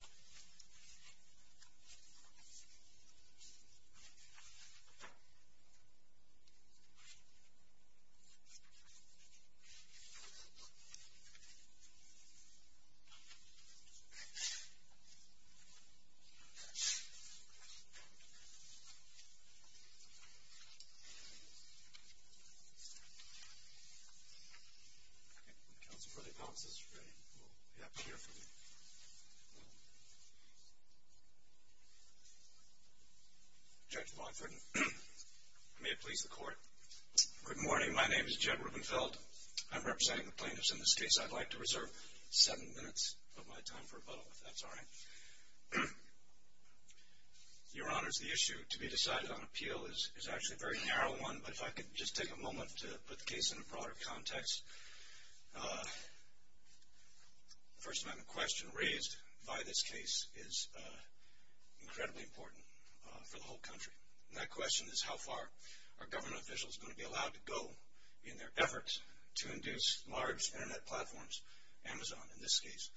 Councilmember De Palma says you're ready, we'll be happy to hear from you. Judge Longford, may it please the court. Good morning, my name is Jed Rubenfeld. I'm representing the plaintiffs in this case. I'd like to reserve seven minutes of my time for rebuttal, if that's all right. Your Honors, the issue to be decided on appeal is actually a very narrow one, but if I could just take a moment to put the case in a broader context. The First Amendment question raised by this case is incredibly important for the whole country. That question is how far are government officials going to be allowed to go in their efforts to induce large internet platforms, Amazon in this case,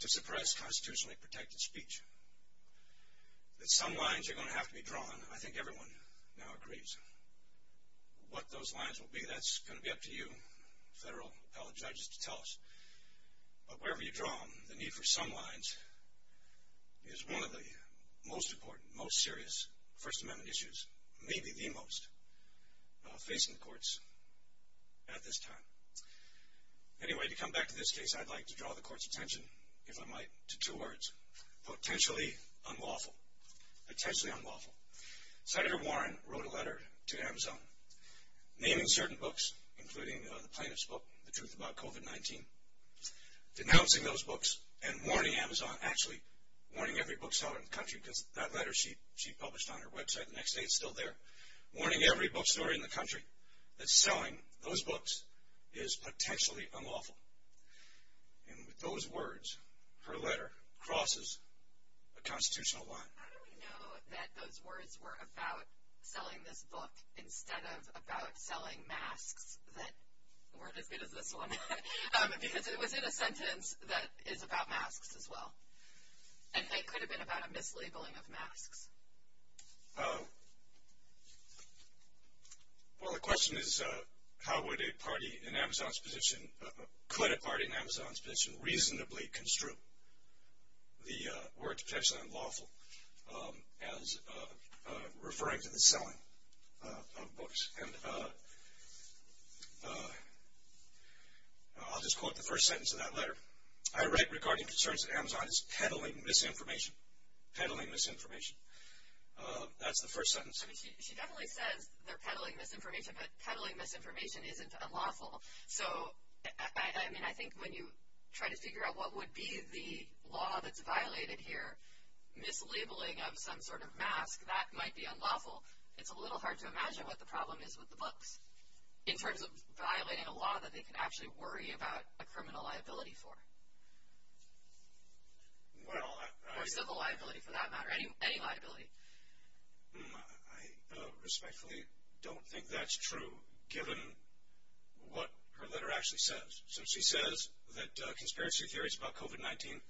to suppress constitutionally protected speech. Some lines are going to have to be drawn. I think everyone now agrees what those lines will be. That's going to be up to you, federal appellate judges, to tell us. But wherever you draw them, the need for some lines is one of the most important, most serious First Amendment issues, maybe the most, facing the courts at this time. Anyway, to come back to this case, I'd like to draw the court's attention, if I might, to two words. Potentially unlawful. Potentially unlawful. Senator Warren wrote a letter to Amazon naming certain books, including the plaintiff's book, The Truth About COVID-19, denouncing those books and warning Amazon, actually warning every bookseller in the country because that letter she published on her website the next day is still there, warning every bookstore in the country that selling those books is potentially unlawful. And with those words, her letter crosses a constitutional line. How do we know that those words were about selling this book instead of about selling masks that weren't as good as this one? Because it was in a sentence that is about masks as well. And they could have been about a mislabeling of masks. Well, the question is, how would a party in Amazon's position, a credit party in Amazon's position, reasonably construe the words potentially unlawful as referring to the selling of books? And I'll just quote the first sentence of that letter. I write regarding concerns that Amazon is peddling misinformation. Peddling misinformation. That's the first sentence. She definitely says they're peddling misinformation, but peddling misinformation isn't unlawful. So, I mean, I think when you try to figure out what would be the law that's violated here, mislabeling of some sort of mask, that might be unlawful. It's a little hard to imagine what the problem is with the books in terms of violating a law that they can actually worry about a criminal liability for. Or civil liability for that matter, any liability. I respectfully don't think that's true, given what her letter actually says. So she says that conspiracy theories about COVID-19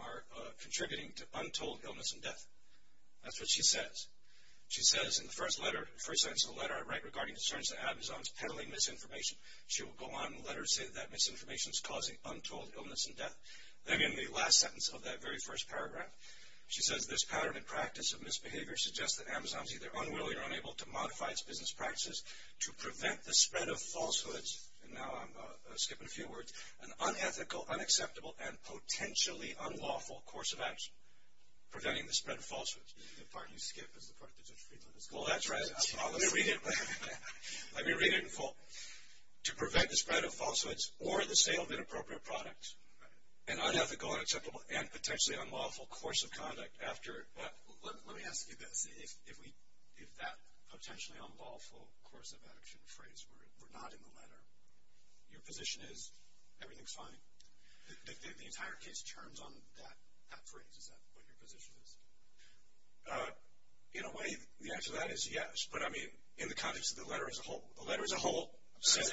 are contributing to untold illness and death. That's what she says. She says in the first letter, the first sentence of the letter, I write regarding concerns that Amazon is peddling misinformation. She will go on in the letter and say that that misinformation is causing untold illness and death. Then in the last sentence of that very first paragraph, she says this pattern and practice of misbehavior suggests that Amazon is either unwilling or unable to modify its business practices to prevent the spread of falsehoods, and now I'm skipping a few words, an unethical, unacceptable, and potentially unlawful course of action. Preventing the spread of falsehoods. The part you skip is the part that Judge Friedland is calling. Well, that's right. Let me read it. Let me read it in full. To prevent the spread of falsehoods or the sale of inappropriate products, an unethical, unacceptable, and potentially unlawful course of conduct. Let me ask you this. If that potentially unlawful course of action phrase were not in the letter, your position is everything's fine? The entire case turns on that phrase. Is that what your position is? In a way, the answer to that is yes. But, I mean, in the context of the letter as a whole, the letter as a whole says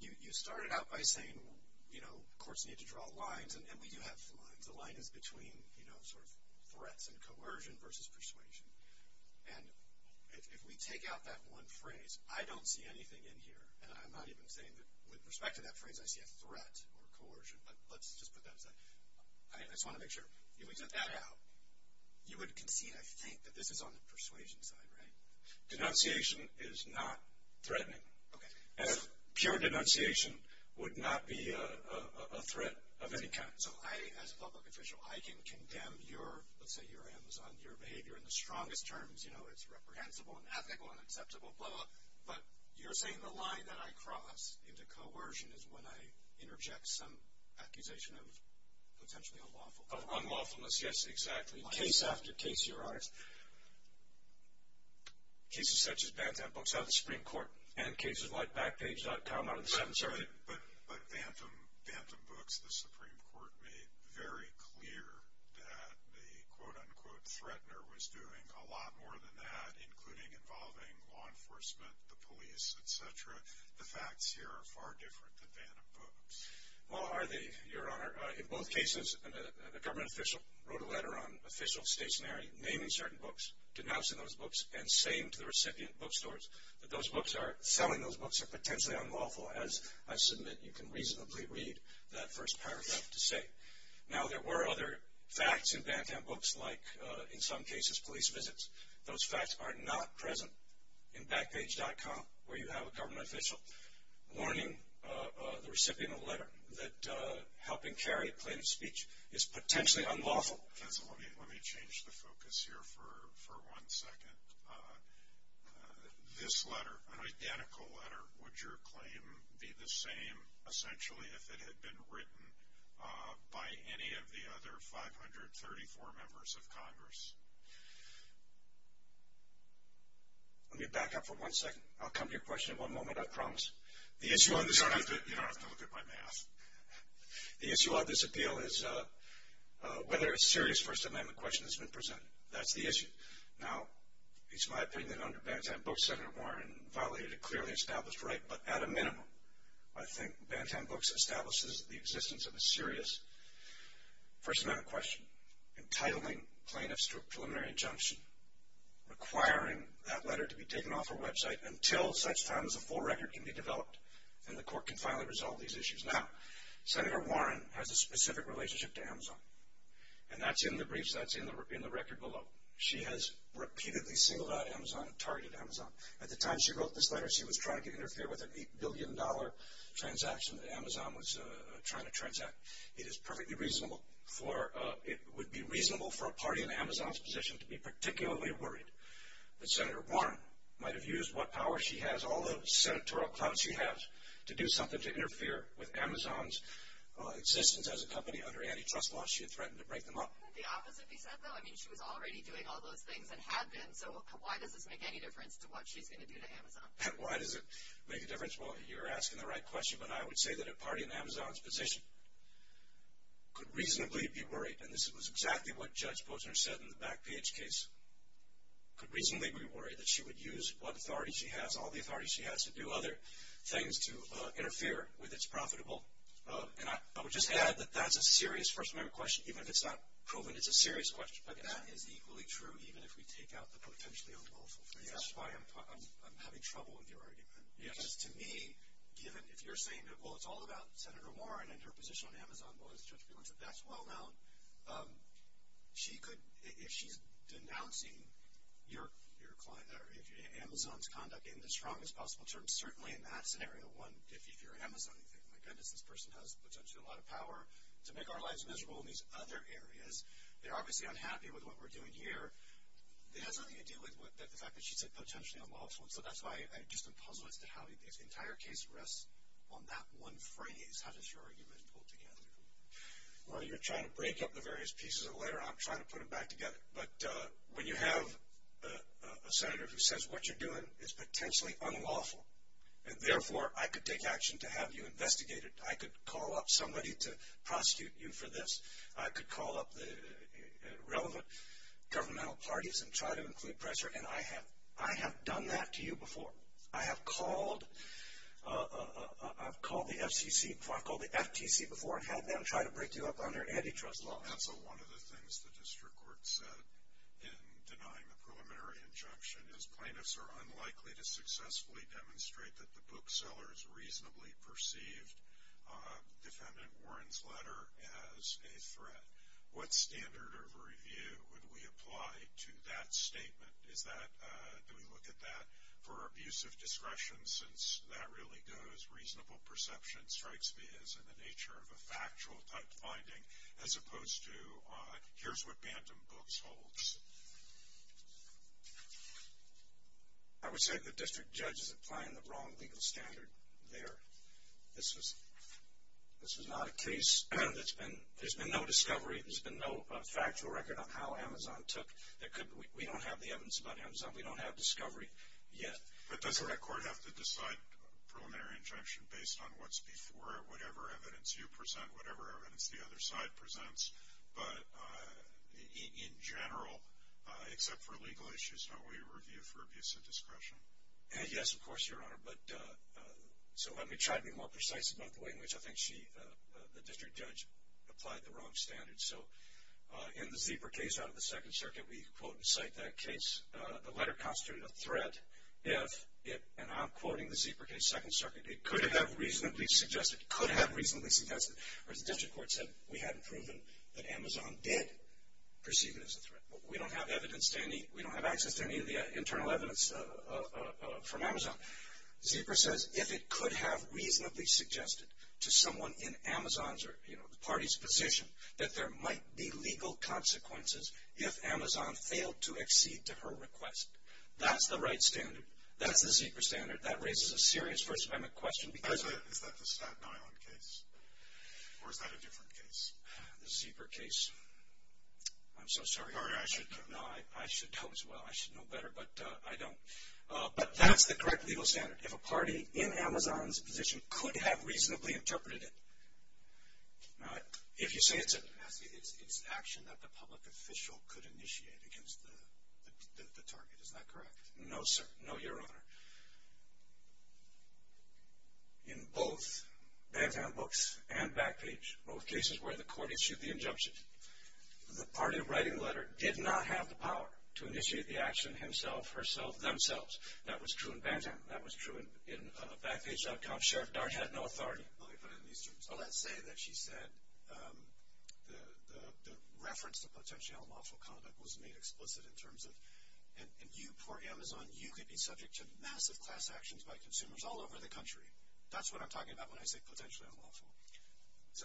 You started out by saying, you know, courts need to draw lines, and we do have lines. The line is between, you know, sort of threats and coercion versus persuasion. And if we take out that one phrase, I don't see anything in here, and I'm not even saying that with respect to that phrase I see a threat or coercion, but let's just put that aside. I just want to make sure. If we took that out, you would concede, I think, that this is on the persuasion side, right? Denunciation is not threatening. And pure denunciation would not be a threat of any kind. So I, as a public official, I can condemn your, let's say your Amazon, your behavior in the strongest terms. You know, it's reprehensible and ethical and acceptable, blah, blah, blah. But you're saying the line that I cross into coercion is when I interject some accusation of potentially unlawful. Of unlawfulness, yes, exactly. Case after case, Your Honor. Case after case. Cases such as Bantam Books have the Supreme Court, and cases like Backpage.com out of the Seventh Circuit. But Bantam Books, the Supreme Court made very clear that the, quote, unquote, threatener was doing a lot more than that, including involving law enforcement, the police, et cetera. The facts here are far different than Bantam Books. Well, are they, Your Honor? In both cases, the government official wrote a letter on official stationarity, naming certain books, denouncing those books, and saying to the recipient bookstores that those books are, selling those books are potentially unlawful, as I submit you can reasonably read that first paragraph to say. Now, there were other facts in Bantam Books, like, in some cases, police visits. Those facts are not present in Backpage.com, where you have a government official warning the recipient of a letter that helping carry a plaintiff's speech is potentially unlawful. Let me change the focus here for one second. This letter, an identical letter, would your claim be the same, essentially, if it had been written by any of the other 534 members of Congress? Let me back up for one second. I'll come to your question in one moment, I promise. You don't have to look at my math. The issue on this appeal is whether a serious First Amendment question has been presented. That's the issue. Now, it's my opinion that under Bantam Books, Senator Warren violated a clearly established right, but at a minimum, I think Bantam Books establishes the existence of a serious First Amendment question, entitling plaintiffs to a preliminary injunction, requiring that letter to be taken off our website until such time as a full record can be developed and the court can finally resolve these issues. Now, Senator Warren has a specific relationship to Amazon, and that's in the briefs, that's in the record below. She has repeatedly singled out Amazon and targeted Amazon. At the time she wrote this letter, she was trying to interfere with an $8 billion transaction that Amazon was trying to transact. It would be reasonable for a party in Amazon's position to be particularly worried that Senator Warren might have used what power she has, all the senatorial clout she has, to do something to interfere with Amazon's existence as a company under antitrust laws she had threatened to break them up. Couldn't the opposite be said, though? I mean, she was already doing all those things and had been, so why does this make any difference to what she's going to do to Amazon? Why does it make a difference? Well, you're asking the right question, but I would say that a party in Amazon's position could reasonably be worried, and this was exactly what Judge Posner said in the Backpage case, could reasonably be worried that she would use what authority she has, all the authority she has, to do other things to interfere with its profitable. And I would just add that that's a serious First Amendment question. Even if it's not proven, it's a serious question. But that is equally true even if we take out the potentially unlawful things. That's why I'm having trouble with your argument. Because to me, given if you're saying, well, it's all about Senator Warren and her position on Amazon, well, as Judge Bielans said, that's well known. She could, if she's denouncing your client or Amazon's conduct in the strongest possible terms, certainly in that scenario, one, if you're Amazon, you think, my goodness, this person has potentially a lot of power to make our lives miserable in these other areas. They're obviously unhappy with what we're doing here. It has nothing to do with the fact that she said potentially unlawful. And so that's why I'm just puzzled as to how this entire case rests on that one phrase. How does your argument pull together? Well, you're trying to break up the various pieces of the letter, and I'm trying to put them back together. But when you have a senator who says what you're doing is potentially unlawful, and therefore I could take action to have you investigated, I could call up somebody to prosecute you for this, I could call up the relevant governmental parties and try to include pressure, and I have done that to you before. I have called the FCC, I've called the FTC before and had them try to break you up under antitrust laws. And so one of the things the district court said in denying the preliminary injunction is plaintiffs are unlikely to successfully demonstrate that the booksellers reasonably perceived Defendant Warren's letter as a threat. What standard of review would we apply to that statement? Do we look at that for abuse of discretion since that really goes reasonable perception, strikes me as in the nature of a factual type finding, as opposed to here's what Bantam Books holds. I would say the district judge is applying the wrong legal standard there. This is not a case that's been, there's been no discovery, there's been no factual record on how Amazon took, we don't have the evidence about Amazon, we don't have discovery yet. But doesn't that court have to decide preliminary injunction based on what's before it, whatever evidence you present, whatever evidence the other side presents, but in general, except for legal issues, don't we review for abuse of discretion? Yes, of course, Your Honor, but so let me try to be more precise about the way in which I think she, the district judge, applied the wrong standard. So in the Zeeper case out of the Second Circuit, we quote and cite that case, the letter constituted a threat if it, and I'm quoting the Zeeper case, Second Circuit, it could have reasonably suggested, could have reasonably suggested, or as the district court said, we hadn't proven that Amazon did perceive it as a threat. We don't have evidence to any, we don't have access to any of the internal evidence from Amazon. Zeeper says if it could have reasonably suggested to someone in Amazon's or, you know, there might be legal consequences if Amazon failed to accede to her request. That's the right standard. That's the Zeeper standard. That raises a serious First Amendment question because of. Is that the Staten Island case or is that a different case? The Zeeper case. I'm so sorry. I should know. No, I should know as well. I should know better, but I don't. But that's the correct legal standard. If a party in Amazon's position could have reasonably interpreted it. If you say it's an action that the public official could initiate against the target, is that correct? No, sir. No, Your Honor. In both Bantam Books and Backpage, both cases where the court issued the injunction, the party writing the letter did not have the power to initiate the action himself, herself, themselves. That was true in Bantam. That was true in Backpage.com. Sheriff Dart had no authority. Let me put it in these terms. Let's say that she said the reference to potentially unlawful conduct was made explicit in terms of, and you poor Amazon, you could be subject to massive class actions by consumers all over the country. That's what I'm talking about when I say potentially unlawful. So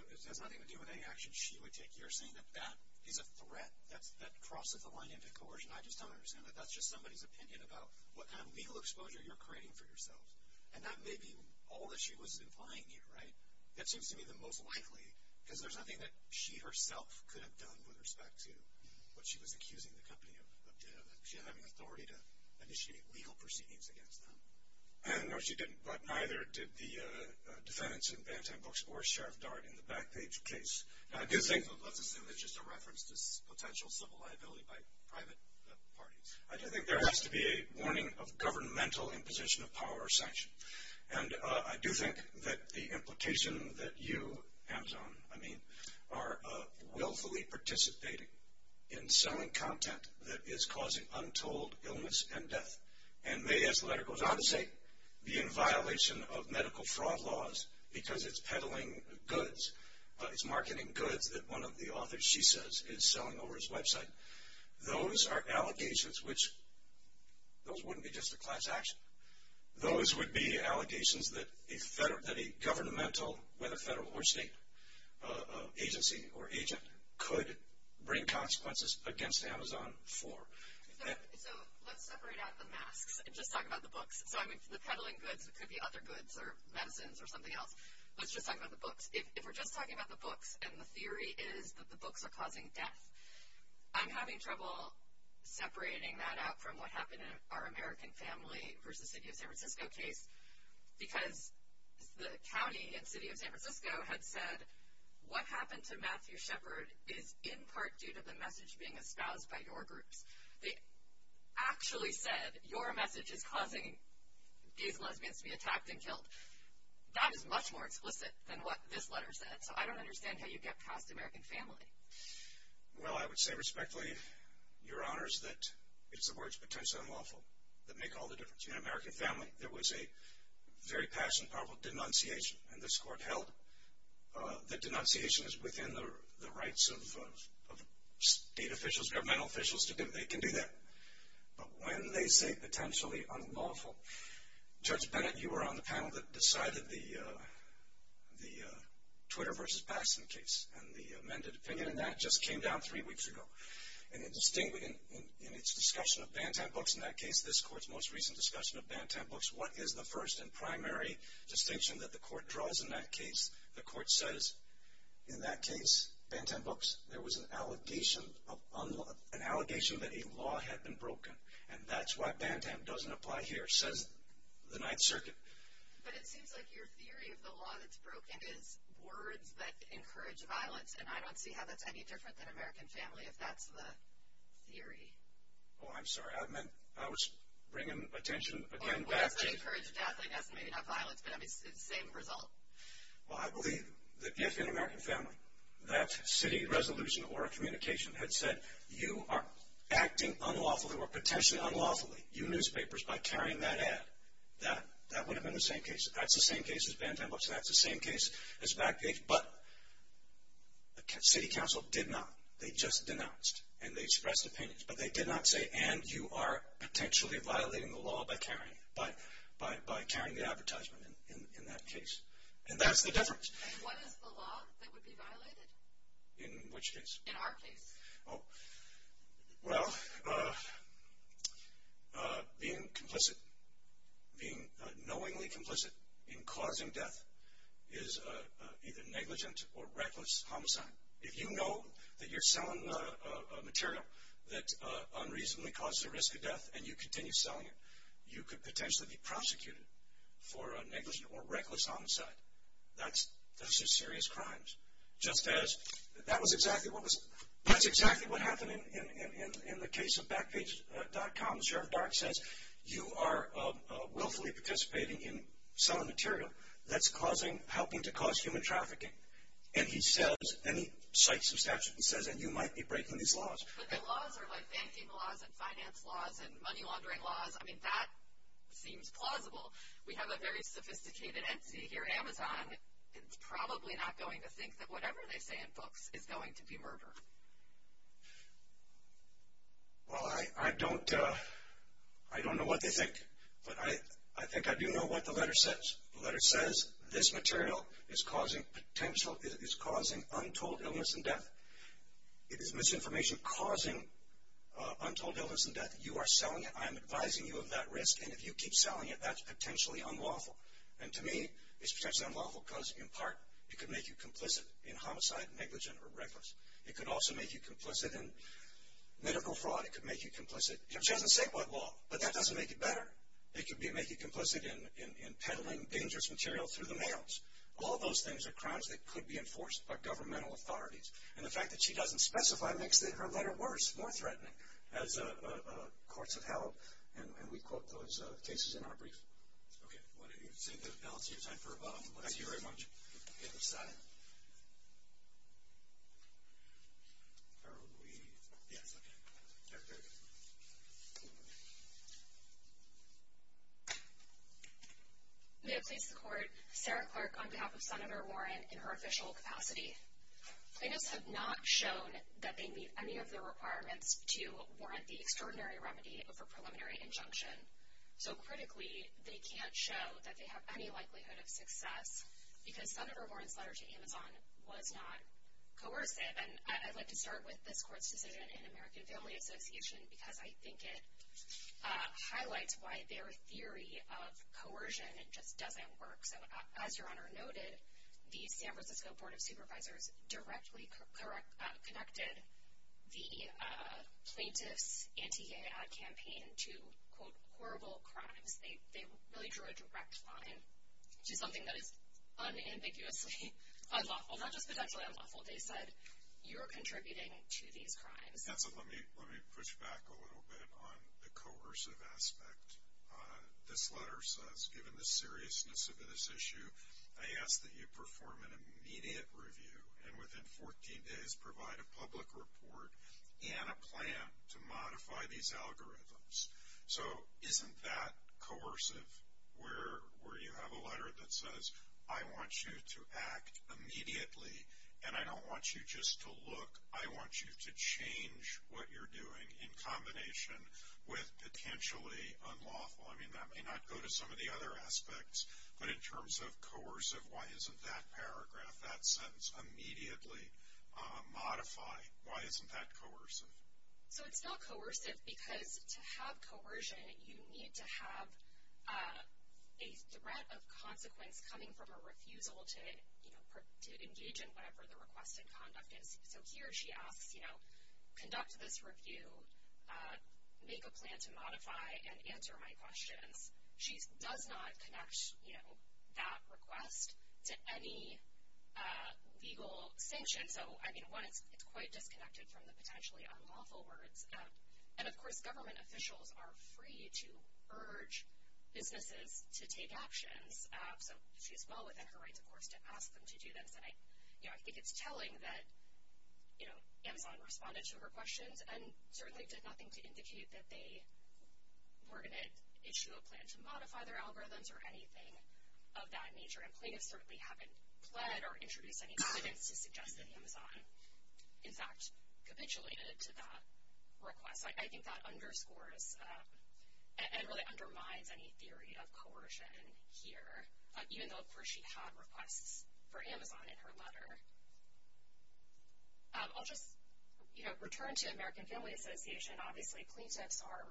it has nothing to do with any action she would take. You're saying that that is a threat that crosses the line into coercion. I just don't understand that. That's just somebody's opinion about what kind of legal exposure you're creating for yourself. And that may be all that she was implying here, right? That seems to me the most likely, because there's nothing that she herself could have done with respect to what she was accusing the company of doing. She didn't have any authority to initiate legal proceedings against them. No, she didn't. But neither did the defendants in Bantam Books or Sheriff Dart in the Backpage case. Let's assume it's just a reference to potential civil liability by private parties. I do think there has to be a warning of governmental imposition of power or sanction. And I do think that the implication that you, Amazon, I mean, are willfully participating in selling content that is causing untold illness and death, and may, as the letter goes on to say, be in violation of medical fraud laws because it's peddling goods. It's marketing goods that one of the authors, she says, is selling over his website. Those are allegations which, those wouldn't be just a class action. Those would be allegations that a governmental, whether federal or state agency or agent, could bring consequences against Amazon for. So let's separate out the masks and just talk about the books. So, I mean, the peddling goods, it could be other goods or medicines or something else. Let's just talk about the books. If we're just talking about the books and the theory is that the books are causing death, I'm having trouble separating that out from what happened in our American family versus the city of San Francisco case because the county and city of San Francisco had said, what happened to Matthew Shepard is in part due to the message being espoused by your groups. They actually said, your message is causing these lesbians to be attacked and killed. That is much more explicit than what this letter said. So I don't understand how you get past American family. Well, I would say respectfully, Your Honors, that it's the words potentially unlawful that make all the difference. In an American family, there was a very passionate, powerful denunciation, and this court held that denunciation is within the rights of state officials, governmental officials. They can do that. But when they say potentially unlawful, Judge Bennett, you were on the panel that decided the Twitter versus Baskin case, and the amended opinion on that just came down three weeks ago. And in its discussion of Bantam Books in that case, this court's most recent discussion of Bantam Books, what is the first and primary distinction that the court draws in that case? The court says, in that case, Bantam Books, there was an allegation that a law had been broken, and that's why Bantam doesn't apply here, says the Ninth Circuit. But it seems like your theory of the law that's broken is words that encourage violence, and I don't see how that's any different than American family, if that's the theory. Oh, I'm sorry. I was bringing attention again back to... Or words that encourage death, I guess, maybe not violence, but it's the same result. Well, I believe that if in American family that city resolution or communication had said, you are acting unlawfully or potentially unlawfully, you newspapers, by carrying that ad, that would have been the same case. That's the same case as Bantam Books, and that's the same case as Backpage. But the city council did not. They just denounced, and they expressed opinions, but they did not say, and you are potentially violating the law by carrying the advertisement in that case. And that's the difference. And what is the law that would be violated? In which case? In our case. Oh, well, being complicit, being knowingly complicit in causing death is either negligent or reckless homicide. If you know that you're selling material that unreasonably causes the risk of death and you continue selling it, you could potentially be prosecuted for negligent or reckless homicide. Those are serious crimes. That's exactly what happened in the case of Backpage.com. Sheriff Dark says, you are willfully participating in selling material that's helping to cause human trafficking. And he cites some statutes and says, and you might be breaking these laws. But the laws are like banking laws and finance laws and money laundering laws. I mean, that seems plausible. We have a very sophisticated entity here at Amazon. It's probably not going to think that whatever they say in books is going to be murder. Well, I don't know what they think, but I think I do know what the letter says. The letter says this material is causing untold illness and death. It is misinformation causing untold illness and death. You are selling it. I am advising you of that risk. And if you keep selling it, that's potentially unlawful. And to me, it's potentially unlawful because, in part, it could make you complicit in homicide, negligent, or reckless. It could also make you complicit in medical fraud. It could make you complicit. It doesn't say what law, but that doesn't make it better. It could make you complicit in peddling dangerous material through the mails. All those things are crimes that could be enforced by governmental authorities. And the fact that she doesn't specify makes her letter worse, more threatening, as courts have held. And we quote those cases in our brief. Okay. Well, that's it. Now it's your time for a bow. Thank you very much. The other side. Are we? Yes, okay. Okay. May it please the Court, Sarah Clark on behalf of Senator Warren in her official capacity. Plaintiffs have not shown that they meet any of the requirements to warrant the extraordinary remedy of a preliminary injunction. So, critically, they can't show that they have any likelihood of success because Senator Warren's letter to Amazon was not coercive. And I'd like to start with this Court's decision in American Family Association because I think it highlights why their theory of coercion just doesn't work. So, as Your Honor noted, the San Francisco Board of Supervisors directly connected the plaintiff's anti-GAA campaign to, quote, horrible crimes. They really drew a direct line to something that is unambiguously unlawful, not just potentially unlawful. They said you're contributing to these crimes. Yeah, so let me push back a little bit on the coercive aspect. This letter says, given the seriousness of this issue, I ask that you perform an immediate review and within 14 days provide a public report and a plan to modify these algorithms. So, isn't that coercive where you have a letter that says, I want you to act immediately, and I don't want you just to look. I want you to change what you're doing in combination with potentially unlawful. I mean, that may not go to some of the other aspects, but in terms of coercive, why isn't that paragraph, that sentence, immediately modified? Why isn't that coercive? So, it's not coercive because to have coercion, you need to have a threat of consequence coming from a refusal to engage in whatever the request in conduct is. So, here she asks, conduct this review, make a plan to modify, and answer my questions. She does not connect that request to any legal sanction. So, I mean, one, it's quite disconnected from the potentially unlawful words. And, of course, government officials are free to urge businesses to take actions. So, she's well within her rights, of course, to ask them to do this. And, you know, I think it's telling that, you know, Amazon responded to her questions and certainly did nothing to indicate that they were going to issue a plan to modify their algorithms or anything of that nature. And plaintiffs certainly haven't pled or introduced any evidence to suggest that Amazon, in fact, capitulated to that request. So, I think that underscores and really undermines any theory of coercion here, even though, of course, she had requests for Amazon in her letter. I'll just, you know, return to American Family Association. Obviously, plaintiffs are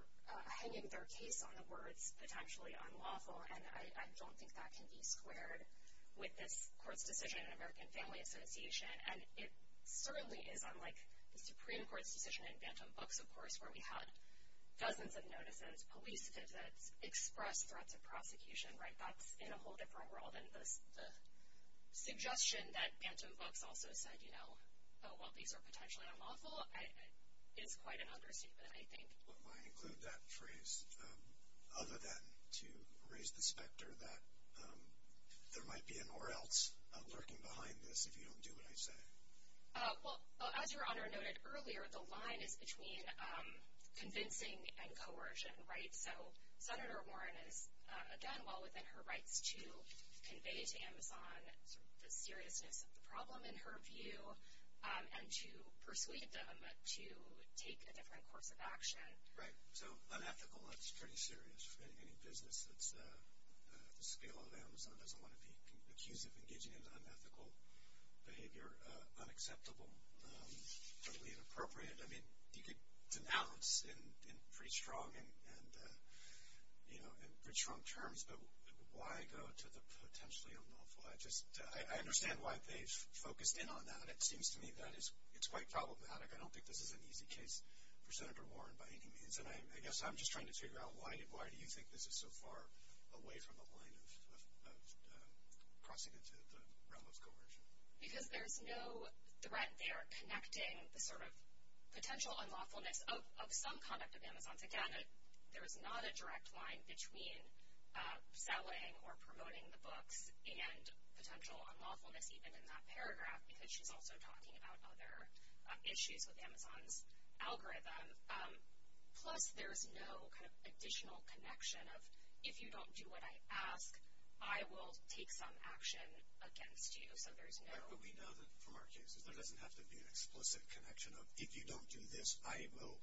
hanging their case on the words potentially unlawful, and I don't think that can be squared with this court's decision in American Family Association. And it certainly is unlike the Supreme Court's decision in Bantam Books, of course, where we had dozens of notices, police visits, express threats of prosecution, right? That's in a whole different world. And the suggestion that Bantam Books also said, you know, oh, well, these are potentially unlawful is quite an understatement, I think. What might include that phrase other than to raise the specter that there might be an or else lurking behind this if you don't do what I say? Well, as Your Honor noted earlier, the line is between convincing and coercion, right? So, Senator Warren is, again, well within her rights to convey to Amazon the seriousness of the problem, in her view, and to persuade them to take a different course of action. Right. So, unethical, that's pretty serious for any business that's at the scale of Amazon, doesn't want to be accused of engaging in unethical behavior, unacceptable, totally inappropriate. I mean, you could denounce in pretty strong terms, but why go to the potentially unlawful? I understand why they've focused in on that. It seems to me that it's quite problematic. I don't think this is an easy case for Senator Warren by any means, and I guess I'm just trying to figure out why do you think this is so far away from the line of crossing into the realm of coercion? Because there's no threat there connecting the sort of potential unlawfulness of some conduct of Amazon's. Again, there's not a direct line between selling or promoting the books and potential unlawfulness, even in that paragraph, because she's also talking about other issues with Amazon's algorithm. Plus, there's no kind of additional connection of if you don't do what I ask, I will take some action against you. So, there's no – But we know that from our cases, there doesn't have to be an explicit connection of if you don't do this, I will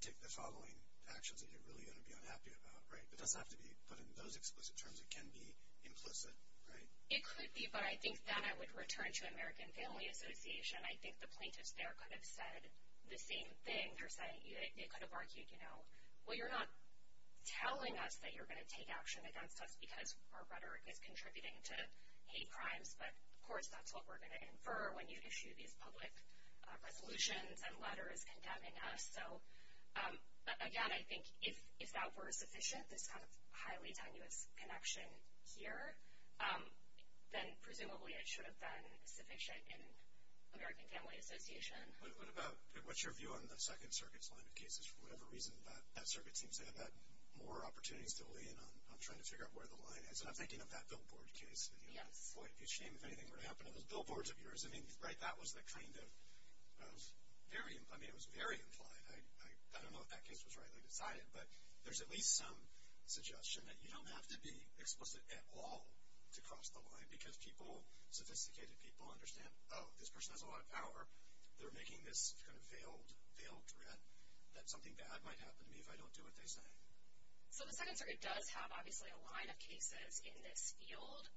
take the following actions that you're really going to be unhappy about, right? It doesn't have to be put in those explicit terms. It can be implicit, right? It could be, but I think that I would return to American Family Association. I think the plaintiffs there could have said the same thing. They could have argued, you know, well, you're not telling us that you're going to take action against us because our rhetoric is contributing to hate crimes, but of course that's what we're going to infer when you issue these public resolutions and letters condemning us. So, again, I think if that were sufficient, this kind of highly tenuous connection here, then presumably it should have been sufficient in American Family Association. What about – what's your view on the Second Circuit's line of cases? For whatever reason, that circuit seems to have had more opportunities to lean on trying to figure out where the line is. And I'm thinking of that billboard case. Yes. Boy, it would be a shame if anything were to happen to those billboards of yours. I mean, right, that was the kind of – I mean, it was very implied. I don't know if that case was rightly decided, but there's at least some suggestion that you don't have to be explicit at all to cross the line because people, sophisticated people, understand, oh, this person has a lot of power. They're making this kind of veiled threat that something bad might happen to me if I don't do what they say. So the Second Circuit does have, obviously, a line of cases in this field.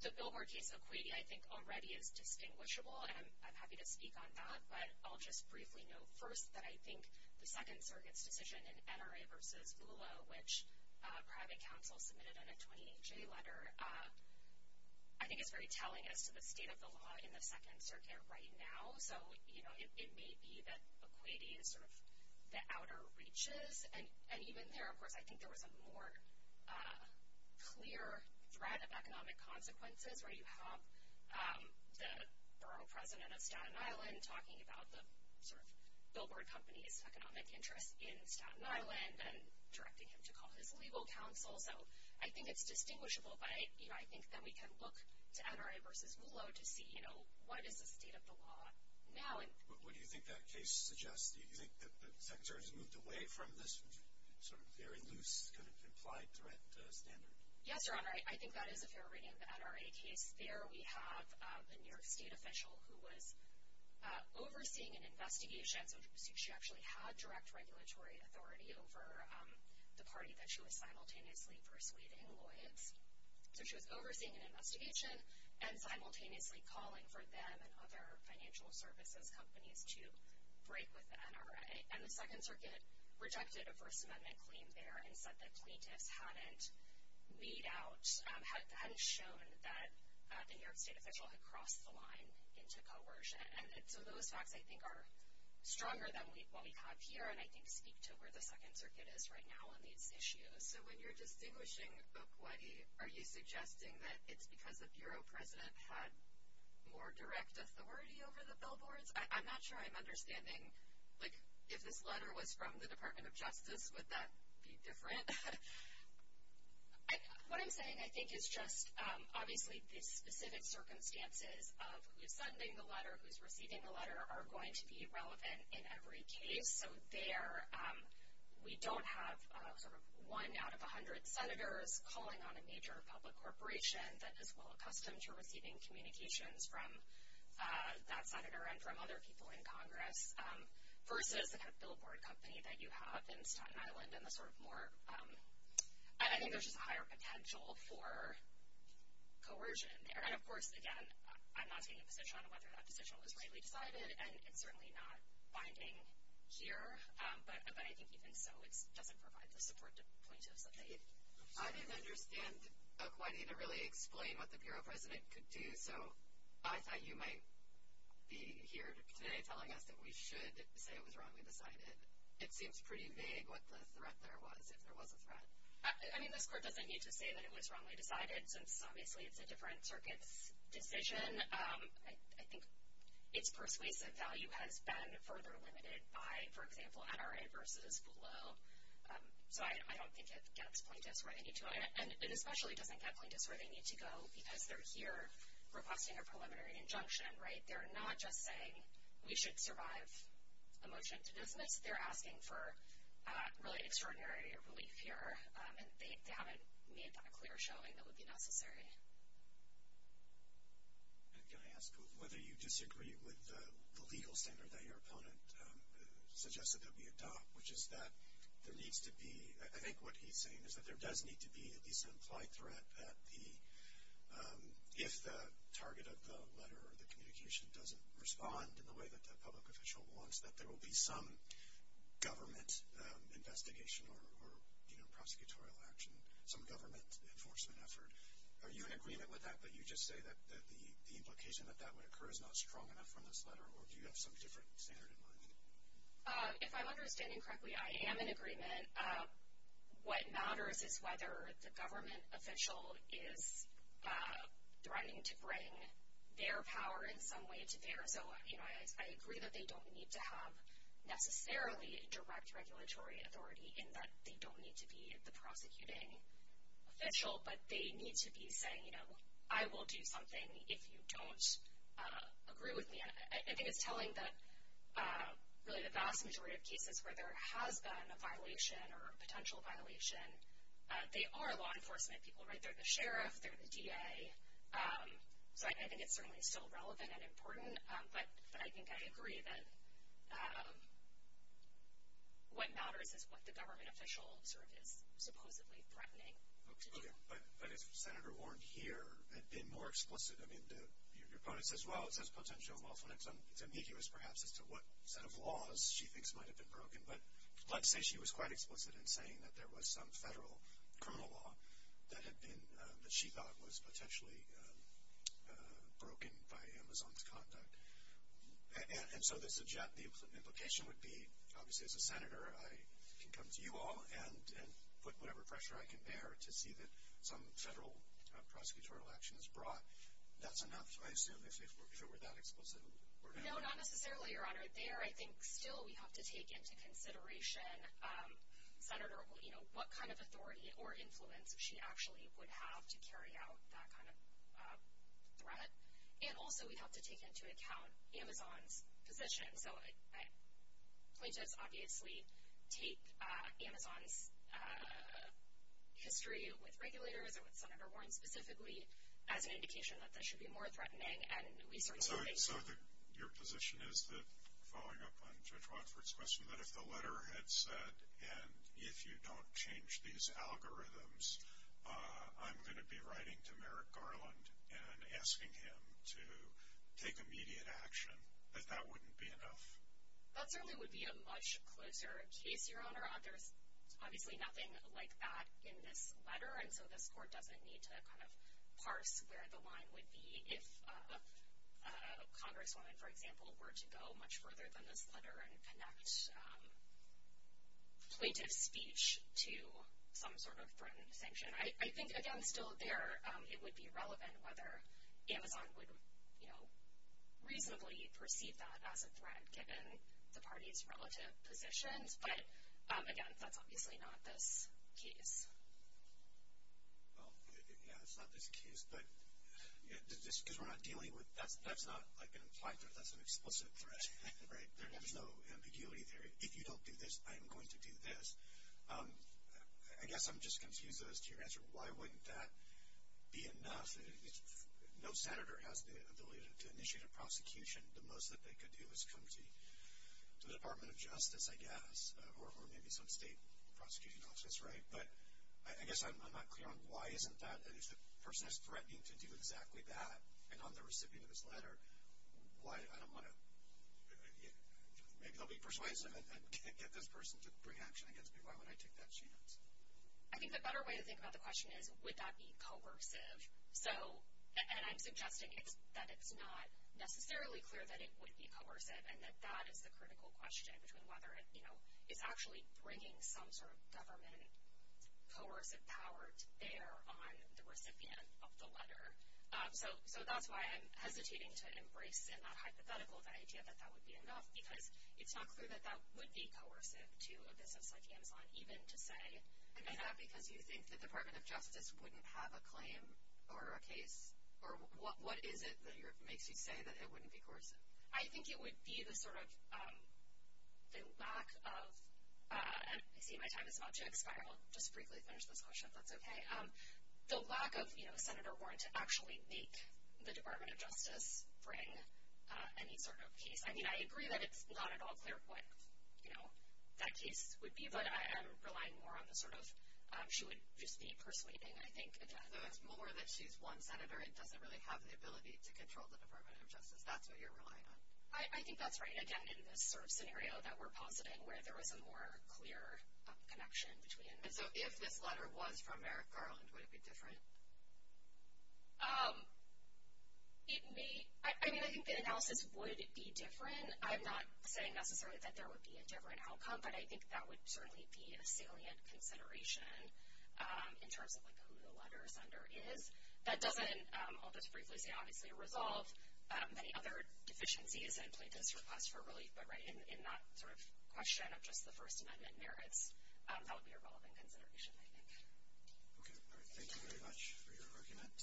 The billboard case of Equity, I think, already is distinguishable, and I'm happy to speak on that. But I'll just briefly note first that I think the Second Circuit's decision in NRA versus ULA, which private counsel submitted in a 28-J letter, I think is very telling as to the state of the law in the Second Circuit right now. So, you know, it may be that Equity is sort of the outer reaches. And even there, of course, I think there was a more clear threat of economic consequences where you have the borough president of Staten Island talking about the sort of billboard company's economic interest in Staten Island and directing him to call his legal counsel. So I think it's distinguishable, but, you know, I think that we can look to NRA versus ULA to see, you know, what is the state of the law now? What do you think that case suggests? Do you think that the Second Circuit has moved away from this sort of very loose kind of implied threat standard? Yes, Your Honor. I think that is a fair reading of the NRA case. There we have a New York state official who was overseeing an investigation. So she actually had direct regulatory authority over the party that she was simultaneously persuading, Lloyd's. So she was overseeing an investigation and simultaneously calling for them and other financial services companies to break with the NRA. And the Second Circuit rejected a First Amendment claim there and said that plaintiffs hadn't weed out, hadn't shown that the New York state official had crossed the line into coercion. And so those facts, I think, are stronger than what we have here and I think speak to where the Second Circuit is right now on these issues. So when you're distinguishing Okwuiti, are you suggesting that it's because the bureau president had more direct authority over the billboards? I'm not sure I'm understanding, like, if this letter was from the Department of Justice, would that be different? What I'm saying, I think, is just, obviously, the specific circumstances of who's sending the letter, who's receiving the letter, are going to be relevant in every case. So there, we don't have sort of one out of 100 senators calling on a major public corporation that is well accustomed to receiving communications from that senator and from other people in Congress versus the kind of billboard company that you have in Staten Island and the sort of more, I think there's just a higher potential for coercion there. And, of course, again, I'm not taking a position on whether that decision was rightly decided and it's certainly not binding here. But I think even so, it doesn't provide the support to appointees that they need. I didn't understand Okwuiti to really explain what the bureau president could do, so I thought you might be here today telling us that we should say it was wrongly decided. It seems pretty vague what the threat there was, if there was a threat. I mean, this court doesn't need to say that it was wrongly decided, since, obviously, it's a different circuit's decision. I think its persuasive value has been further limited by, for example, NRA versus FULO. So I don't think it gets plaintiffs where they need to go, and it especially doesn't get plaintiffs where they need to go because they're here requesting a preliminary injunction. They're not just saying we should survive a motion to dismiss. They're asking for really extraordinary relief here, and they haven't made that clear showing that would be necessary. Can I ask whether you disagree with the legal standard that your opponent suggested that we adopt, which is that there needs to be, I think what he's saying is that there does need to be at least an implied threat that if the target of the letter or the communication doesn't respond in the way that the public official wants, that there will be some government investigation or prosecutorial action, some government enforcement effort. Are you in agreement with that, but you just say that the implication that that would occur is not strong enough from this letter, or do you have some different standard in mind? If I'm understanding correctly, I am in agreement. What matters is whether the government official is threatening to bring their power in some way to theirs. I agree that they don't need to have necessarily direct regulatory authority in that they don't need to be the prosecuting official, but they need to be saying I will do something if you don't agree with me. I think it's telling that really the vast majority of cases where there has been a violation or a potential violation, they are law enforcement people. They're the sheriff. They're the DA. So I think it's certainly still relevant and important, but I think I agree that what matters is what the government official sort of is supposedly threatening to do. But as Senator Warren here had been more explicit, I mean, your opponent says, well, it says potential law enforcement. It's ambiguous perhaps as to what set of laws she thinks might have been broken, but let's say she was quite explicit in saying that there was some federal criminal law that she thought was potentially broken by Amazon's conduct. And so the implication would be, obviously, as a senator, I can come to you all and put whatever pressure I can bear to see that some federal prosecutorial action is brought. That's enough, I assume, if it were that explicit. No, not necessarily, Your Honor. There I think still we have to take into consideration, Senator, what kind of authority or influence she actually would have to carry out that kind of threat. And also we have to take into account Amazon's position. So plaintiffs obviously take Amazon's history with regulators or with Senator Warren specifically as an indication that this should be more threatening. So your position is that, following up on Judge Watford's question, that if the letter had said, and if you don't change these algorithms, I'm going to be writing to Merrick Garland and asking him to take immediate action, that that wouldn't be enough? That certainly would be a much closer case, Your Honor. There's obviously nothing like that in this letter, and so this court doesn't need to kind of parse where the line would be if a congresswoman, for example, were to go much further than this letter and connect plaintiff's speech to some sort of threatened sanction. I think, again, still there it would be relevant whether Amazon would reasonably perceive that as a threat, given the parties' relative positions, but, again, that's obviously not this case. Well, yeah, it's not this case, but just because we're not dealing with – that's not like an implied threat. That's an explicit threat, right? There's no ambiguity there. If you don't do this, I am going to do this. I guess I'm just confused as to your answer. Why wouldn't that be enough? No senator has the ability to initiate a prosecution. The most that they could do is come to the Department of Justice, I guess, or maybe some state prosecuting office, right? But I guess I'm not clear on why isn't that – if the person is threatening to do exactly that, and I'm the recipient of this letter, why – I don't want to – maybe they'll be persuasive and get this person to bring action against me. Why would I take that chance? I think the better way to think about the question is, would that be coercive? So – and I'm suggesting that it's not necessarily clear that it would be coercive and that that is the critical question between whether it's actually bringing some sort of government coercive power to bear on the recipient of the letter. So that's why I'm hesitating to embrace in that hypothetical the idea that that would be enough, because it's not clear that that would be coercive to a business like Amazon, even to say – Is that because you think the Department of Justice wouldn't have a claim or a case? Or what is it that makes you say that it wouldn't be coercive? I think it would be the sort of – the lack of – I see my time is about to expire. I'll just briefly finish this question, if that's okay. The lack of a senator warrant to actually make the Department of Justice bring any sort of case. I mean, I agree that it's not at all clear what that case would be, but I am relying more on the sort of – she would just be persuading, I think, again. So it's more that she's one senator and doesn't really have the ability to control the Department of Justice. That's what you're relying on? I think that's right, again, in this sort of scenario that we're positing, where there is a more clear connection between – So if this letter was from Merrick Garland, would it be different? It may – I mean, I think the analysis would be different. I'm not saying necessarily that there would be a different outcome, but I think that would certainly be a salient consideration in terms of, like, who the letter sender is. That doesn't – I'll just briefly say, obviously, resolve many other deficiencies and plaintiffs' request for relief, but in that sort of question of just the First Amendment merits, that would be a relevant consideration, I think. Okay, all right. Thank you very much for your argument.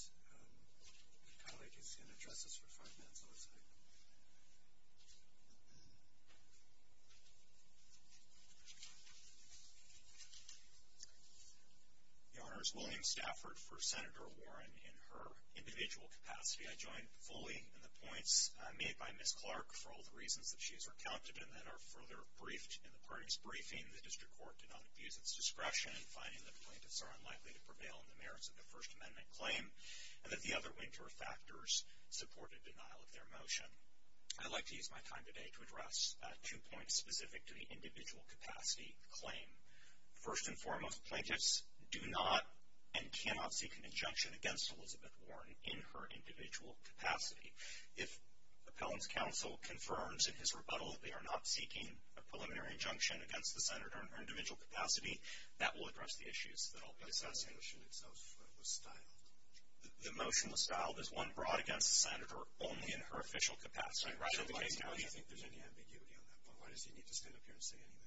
The colleague is going to address us for five minutes on this side. Your Honor, it's William Stafford for Senator Warren in her individual capacity. I join fully in the points made by Ms. Clark for all the reasons that she has recounted including the District Court did not abuse its discretion in finding that plaintiffs are unlikely to prevail in the merits of the First Amendment claim and that the other winter factors supported denial of their motion. I'd like to use my time today to address two points specific to the individual capacity claim. First and foremost, plaintiffs do not and cannot seek an injunction against Elizabeth Warren in her individual capacity. If Appellant's counsel confirms in his rebuttal that they are not seeking a preliminary injunction against the Senator in her individual capacity, that will address the issues that I'll be discussing. But the motion itself was styled. The motion was styled as one brought against the Senator only in her official capacity. So why do you think there's any ambiguity on that point? Why does he need to stand up here and say anything?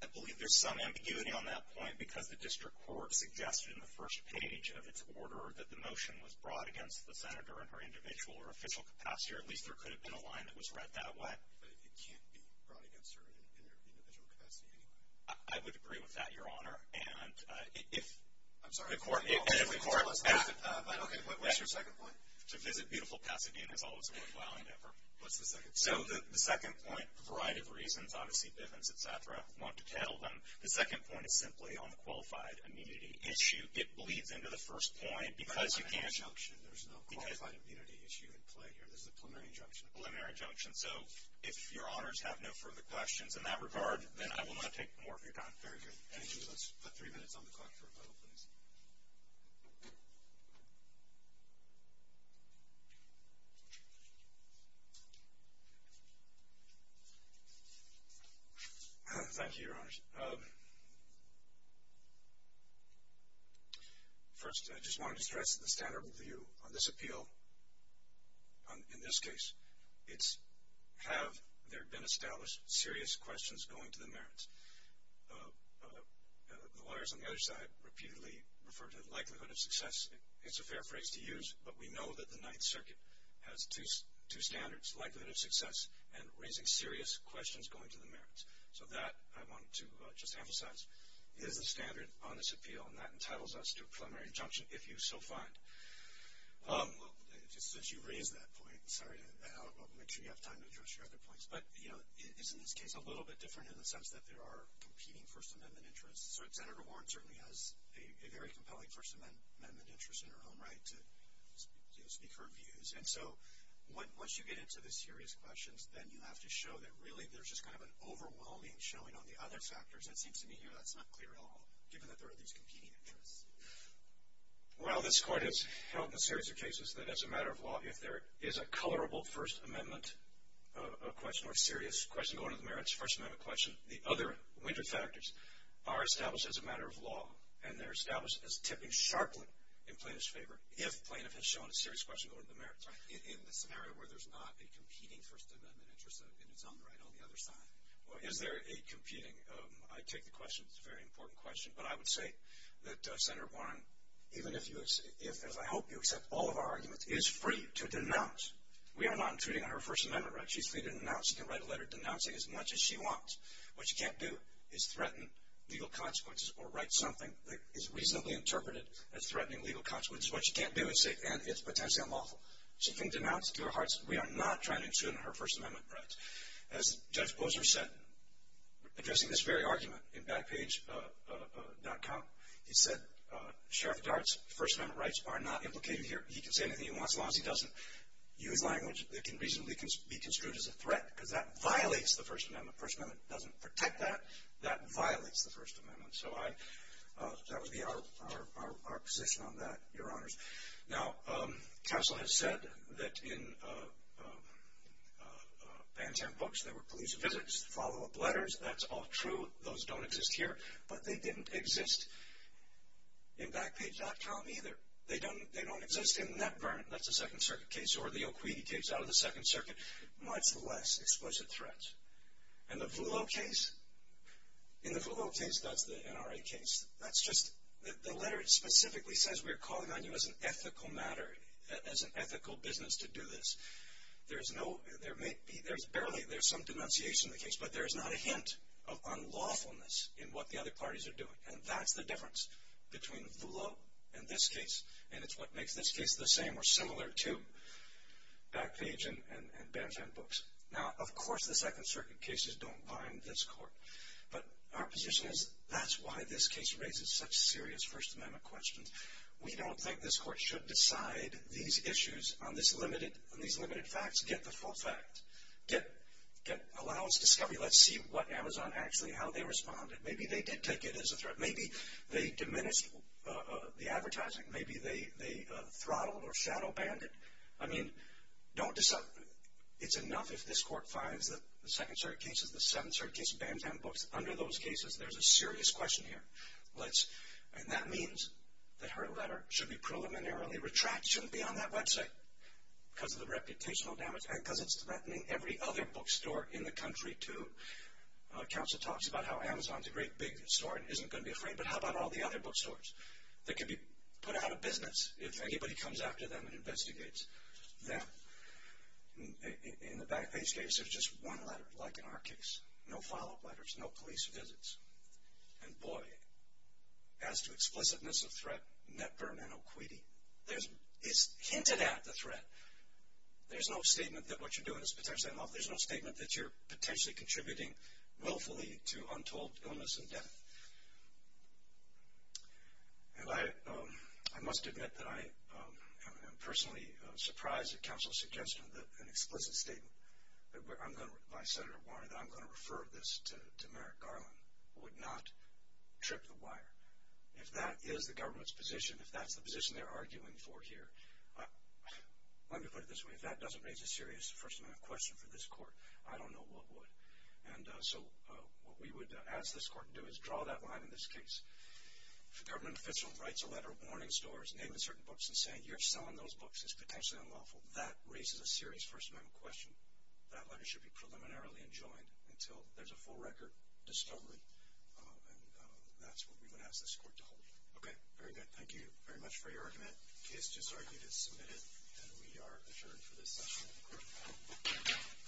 I believe there's some ambiguity on that point because the District Court suggested in the first page of its order that the motion was brought against the Senator in her individual or official capacity or at least there could have been a line that was read that way. But it can't be brought against her in her individual capacity anyway. I would agree with that, Your Honor. I'm sorry. What's your second point? To visit beautiful Pasadena is always a worthwhile endeavor. What's the second point? So the second point, for a variety of reasons, obviously Bivens, et cetera, want to tell them. The second point is simply on the qualified immunity issue. It bleeds into the first point because you can't. There's no qualified immunity issue at play here. This is a preliminary injunction. So if Your Honors have no further questions in that regard, then I will not take more of your time. Very good. Thank you. Let's put three minutes on the clock for rebuttal, please. Thank you, Your Honors. First, I just wanted to stress the standard view on this appeal. In this case, it's have there been established serious questions going to the merits. The lawyers on the other side repeatedly referred to the likelihood of success. It's a fair phrase to use, but we know that the Ninth Circuit has two standards, likelihood of success and raising serious questions going to the merits. So that, I want to just emphasize, is the standard on this appeal, and that entitles us to a preliminary injunction if you so find. Since you raised that point, sorry, I'll make sure you have time to address your other points. But, you know, it's in this case a little bit different in the sense that there are competing First Amendment interests. Senator Warren certainly has a very compelling First Amendment interest in her own right to speak her views. And so once you get into the serious questions, then you have to show that really there's just kind of an overwhelming showing on the other factors. It seems to me here that's not clear at all, given that there are these competing interests. Well, this Court has held in a series of cases that as a matter of law, if there is a colorable First Amendment question or serious question going to the merits, First Amendment question, the other winter factors are established as a matter of law, and they're established as tipping sharply in plaintiff's favor if plaintiff has shown a serious question going to the merits. Right. In the scenario where there's not a competing First Amendment interest in its own right on the other side. Well, is there a competing? I take the question. It's a very important question. But I would say that Senator Warren, even if I hope you accept all of our arguments, is free to denounce. We are not intruding on her First Amendment rights. She's free to denounce. She can write a letter denouncing as much as she wants. What you can't do is threaten legal consequences or write something that is reasonably interpreted as threatening legal consequences. What you can't do is say, and it's potentially unlawful. She can denounce to her hearts. We are not trying to intrude on her First Amendment rights. As Judge Posner said, addressing this very argument in Backpage.com, he said, Sheriff Dart's First Amendment rights are not implicated here. He can say anything he wants as long as he doesn't use language that can reasonably be construed as a threat because that violates the First Amendment. First Amendment doesn't protect that. That violates the First Amendment. So that would be our position on that, Your Honors. Now, counsel has said that in Van Zandt books, there were police visits, follow-up letters. That's all true. Those don't exist here. But they didn't exist in Backpage.com either. They don't exist in NetVern. That's a Second Circuit case or the O'Kweedy case out of the Second Circuit. Nonetheless, explicit threats. And the Voolo case? In the Voolo case, that's the NRA case. That's just, the letter specifically says we're calling on you as an ethical matter, as an ethical business to do this. There's no, there may be, there's barely, there's some denunciation in the case, but there's not a hint of unlawfulness in what the other parties are doing. And that's the difference between Voolo and this case. And it's what makes this case the same or similar to Backpage and Van Zandt books. Now, of course, the Second Circuit cases don't bind this court. But our position is that's why this case raises such serious First Amendment questions. We don't think this court should decide these issues on these limited facts. Get the full fact. Allow us discovery. Let's see what Amazon actually, how they responded. Maybe they did take it as a threat. Maybe they diminished the advertising. Maybe they throttled or shadow banned it. I mean, don't, it's enough if this court finds that the Second Circuit cases, the Seventh Circuit case, Van Zandt books, under those cases there's a serious question here. Let's, and that means that her letter should be preliminarily retracted, shouldn't be on that website because of the reputational damage and because it's threatening every other bookstore in the country too. Counsel talks about how Amazon's a great big store and isn't going to be afraid, but how about all the other bookstores that can be put out of business if anybody comes after them and investigates them? In the Backpage case, there's just one letter, like in our case. No follow-up letters. No police visits. And, boy, as to explicitness of threat, net burn and equity. It's hinted at, the threat. There's no statement that what you're doing is potentially unlawful. There's no statement that you're potentially contributing willfully to untold illness and death. And I must admit that I am personally surprised at counsel's suggestion that an explicit statement by Senator Warner that I'm going to refer this to Merrick Garland would not trip the wire. If that is the government's position, if that's the position they're arguing for here, let me put it this way, if that doesn't raise a serious question for this court, I don't know what would. And so what we would ask this court to do is draw that line in this case. If a government official writes a letter warning stores, naming certain books, and saying you're selling those books, it's potentially unlawful, that raises a serious First Amendment question. That letter should be preliminarily enjoined until there's a full record discovery. And that's what we would ask this court to hold. Okay, very good. Thank you very much for your argument. The case does argue to submit it, and we are adjourned for this session. All rise. This court for this session is now adjourned.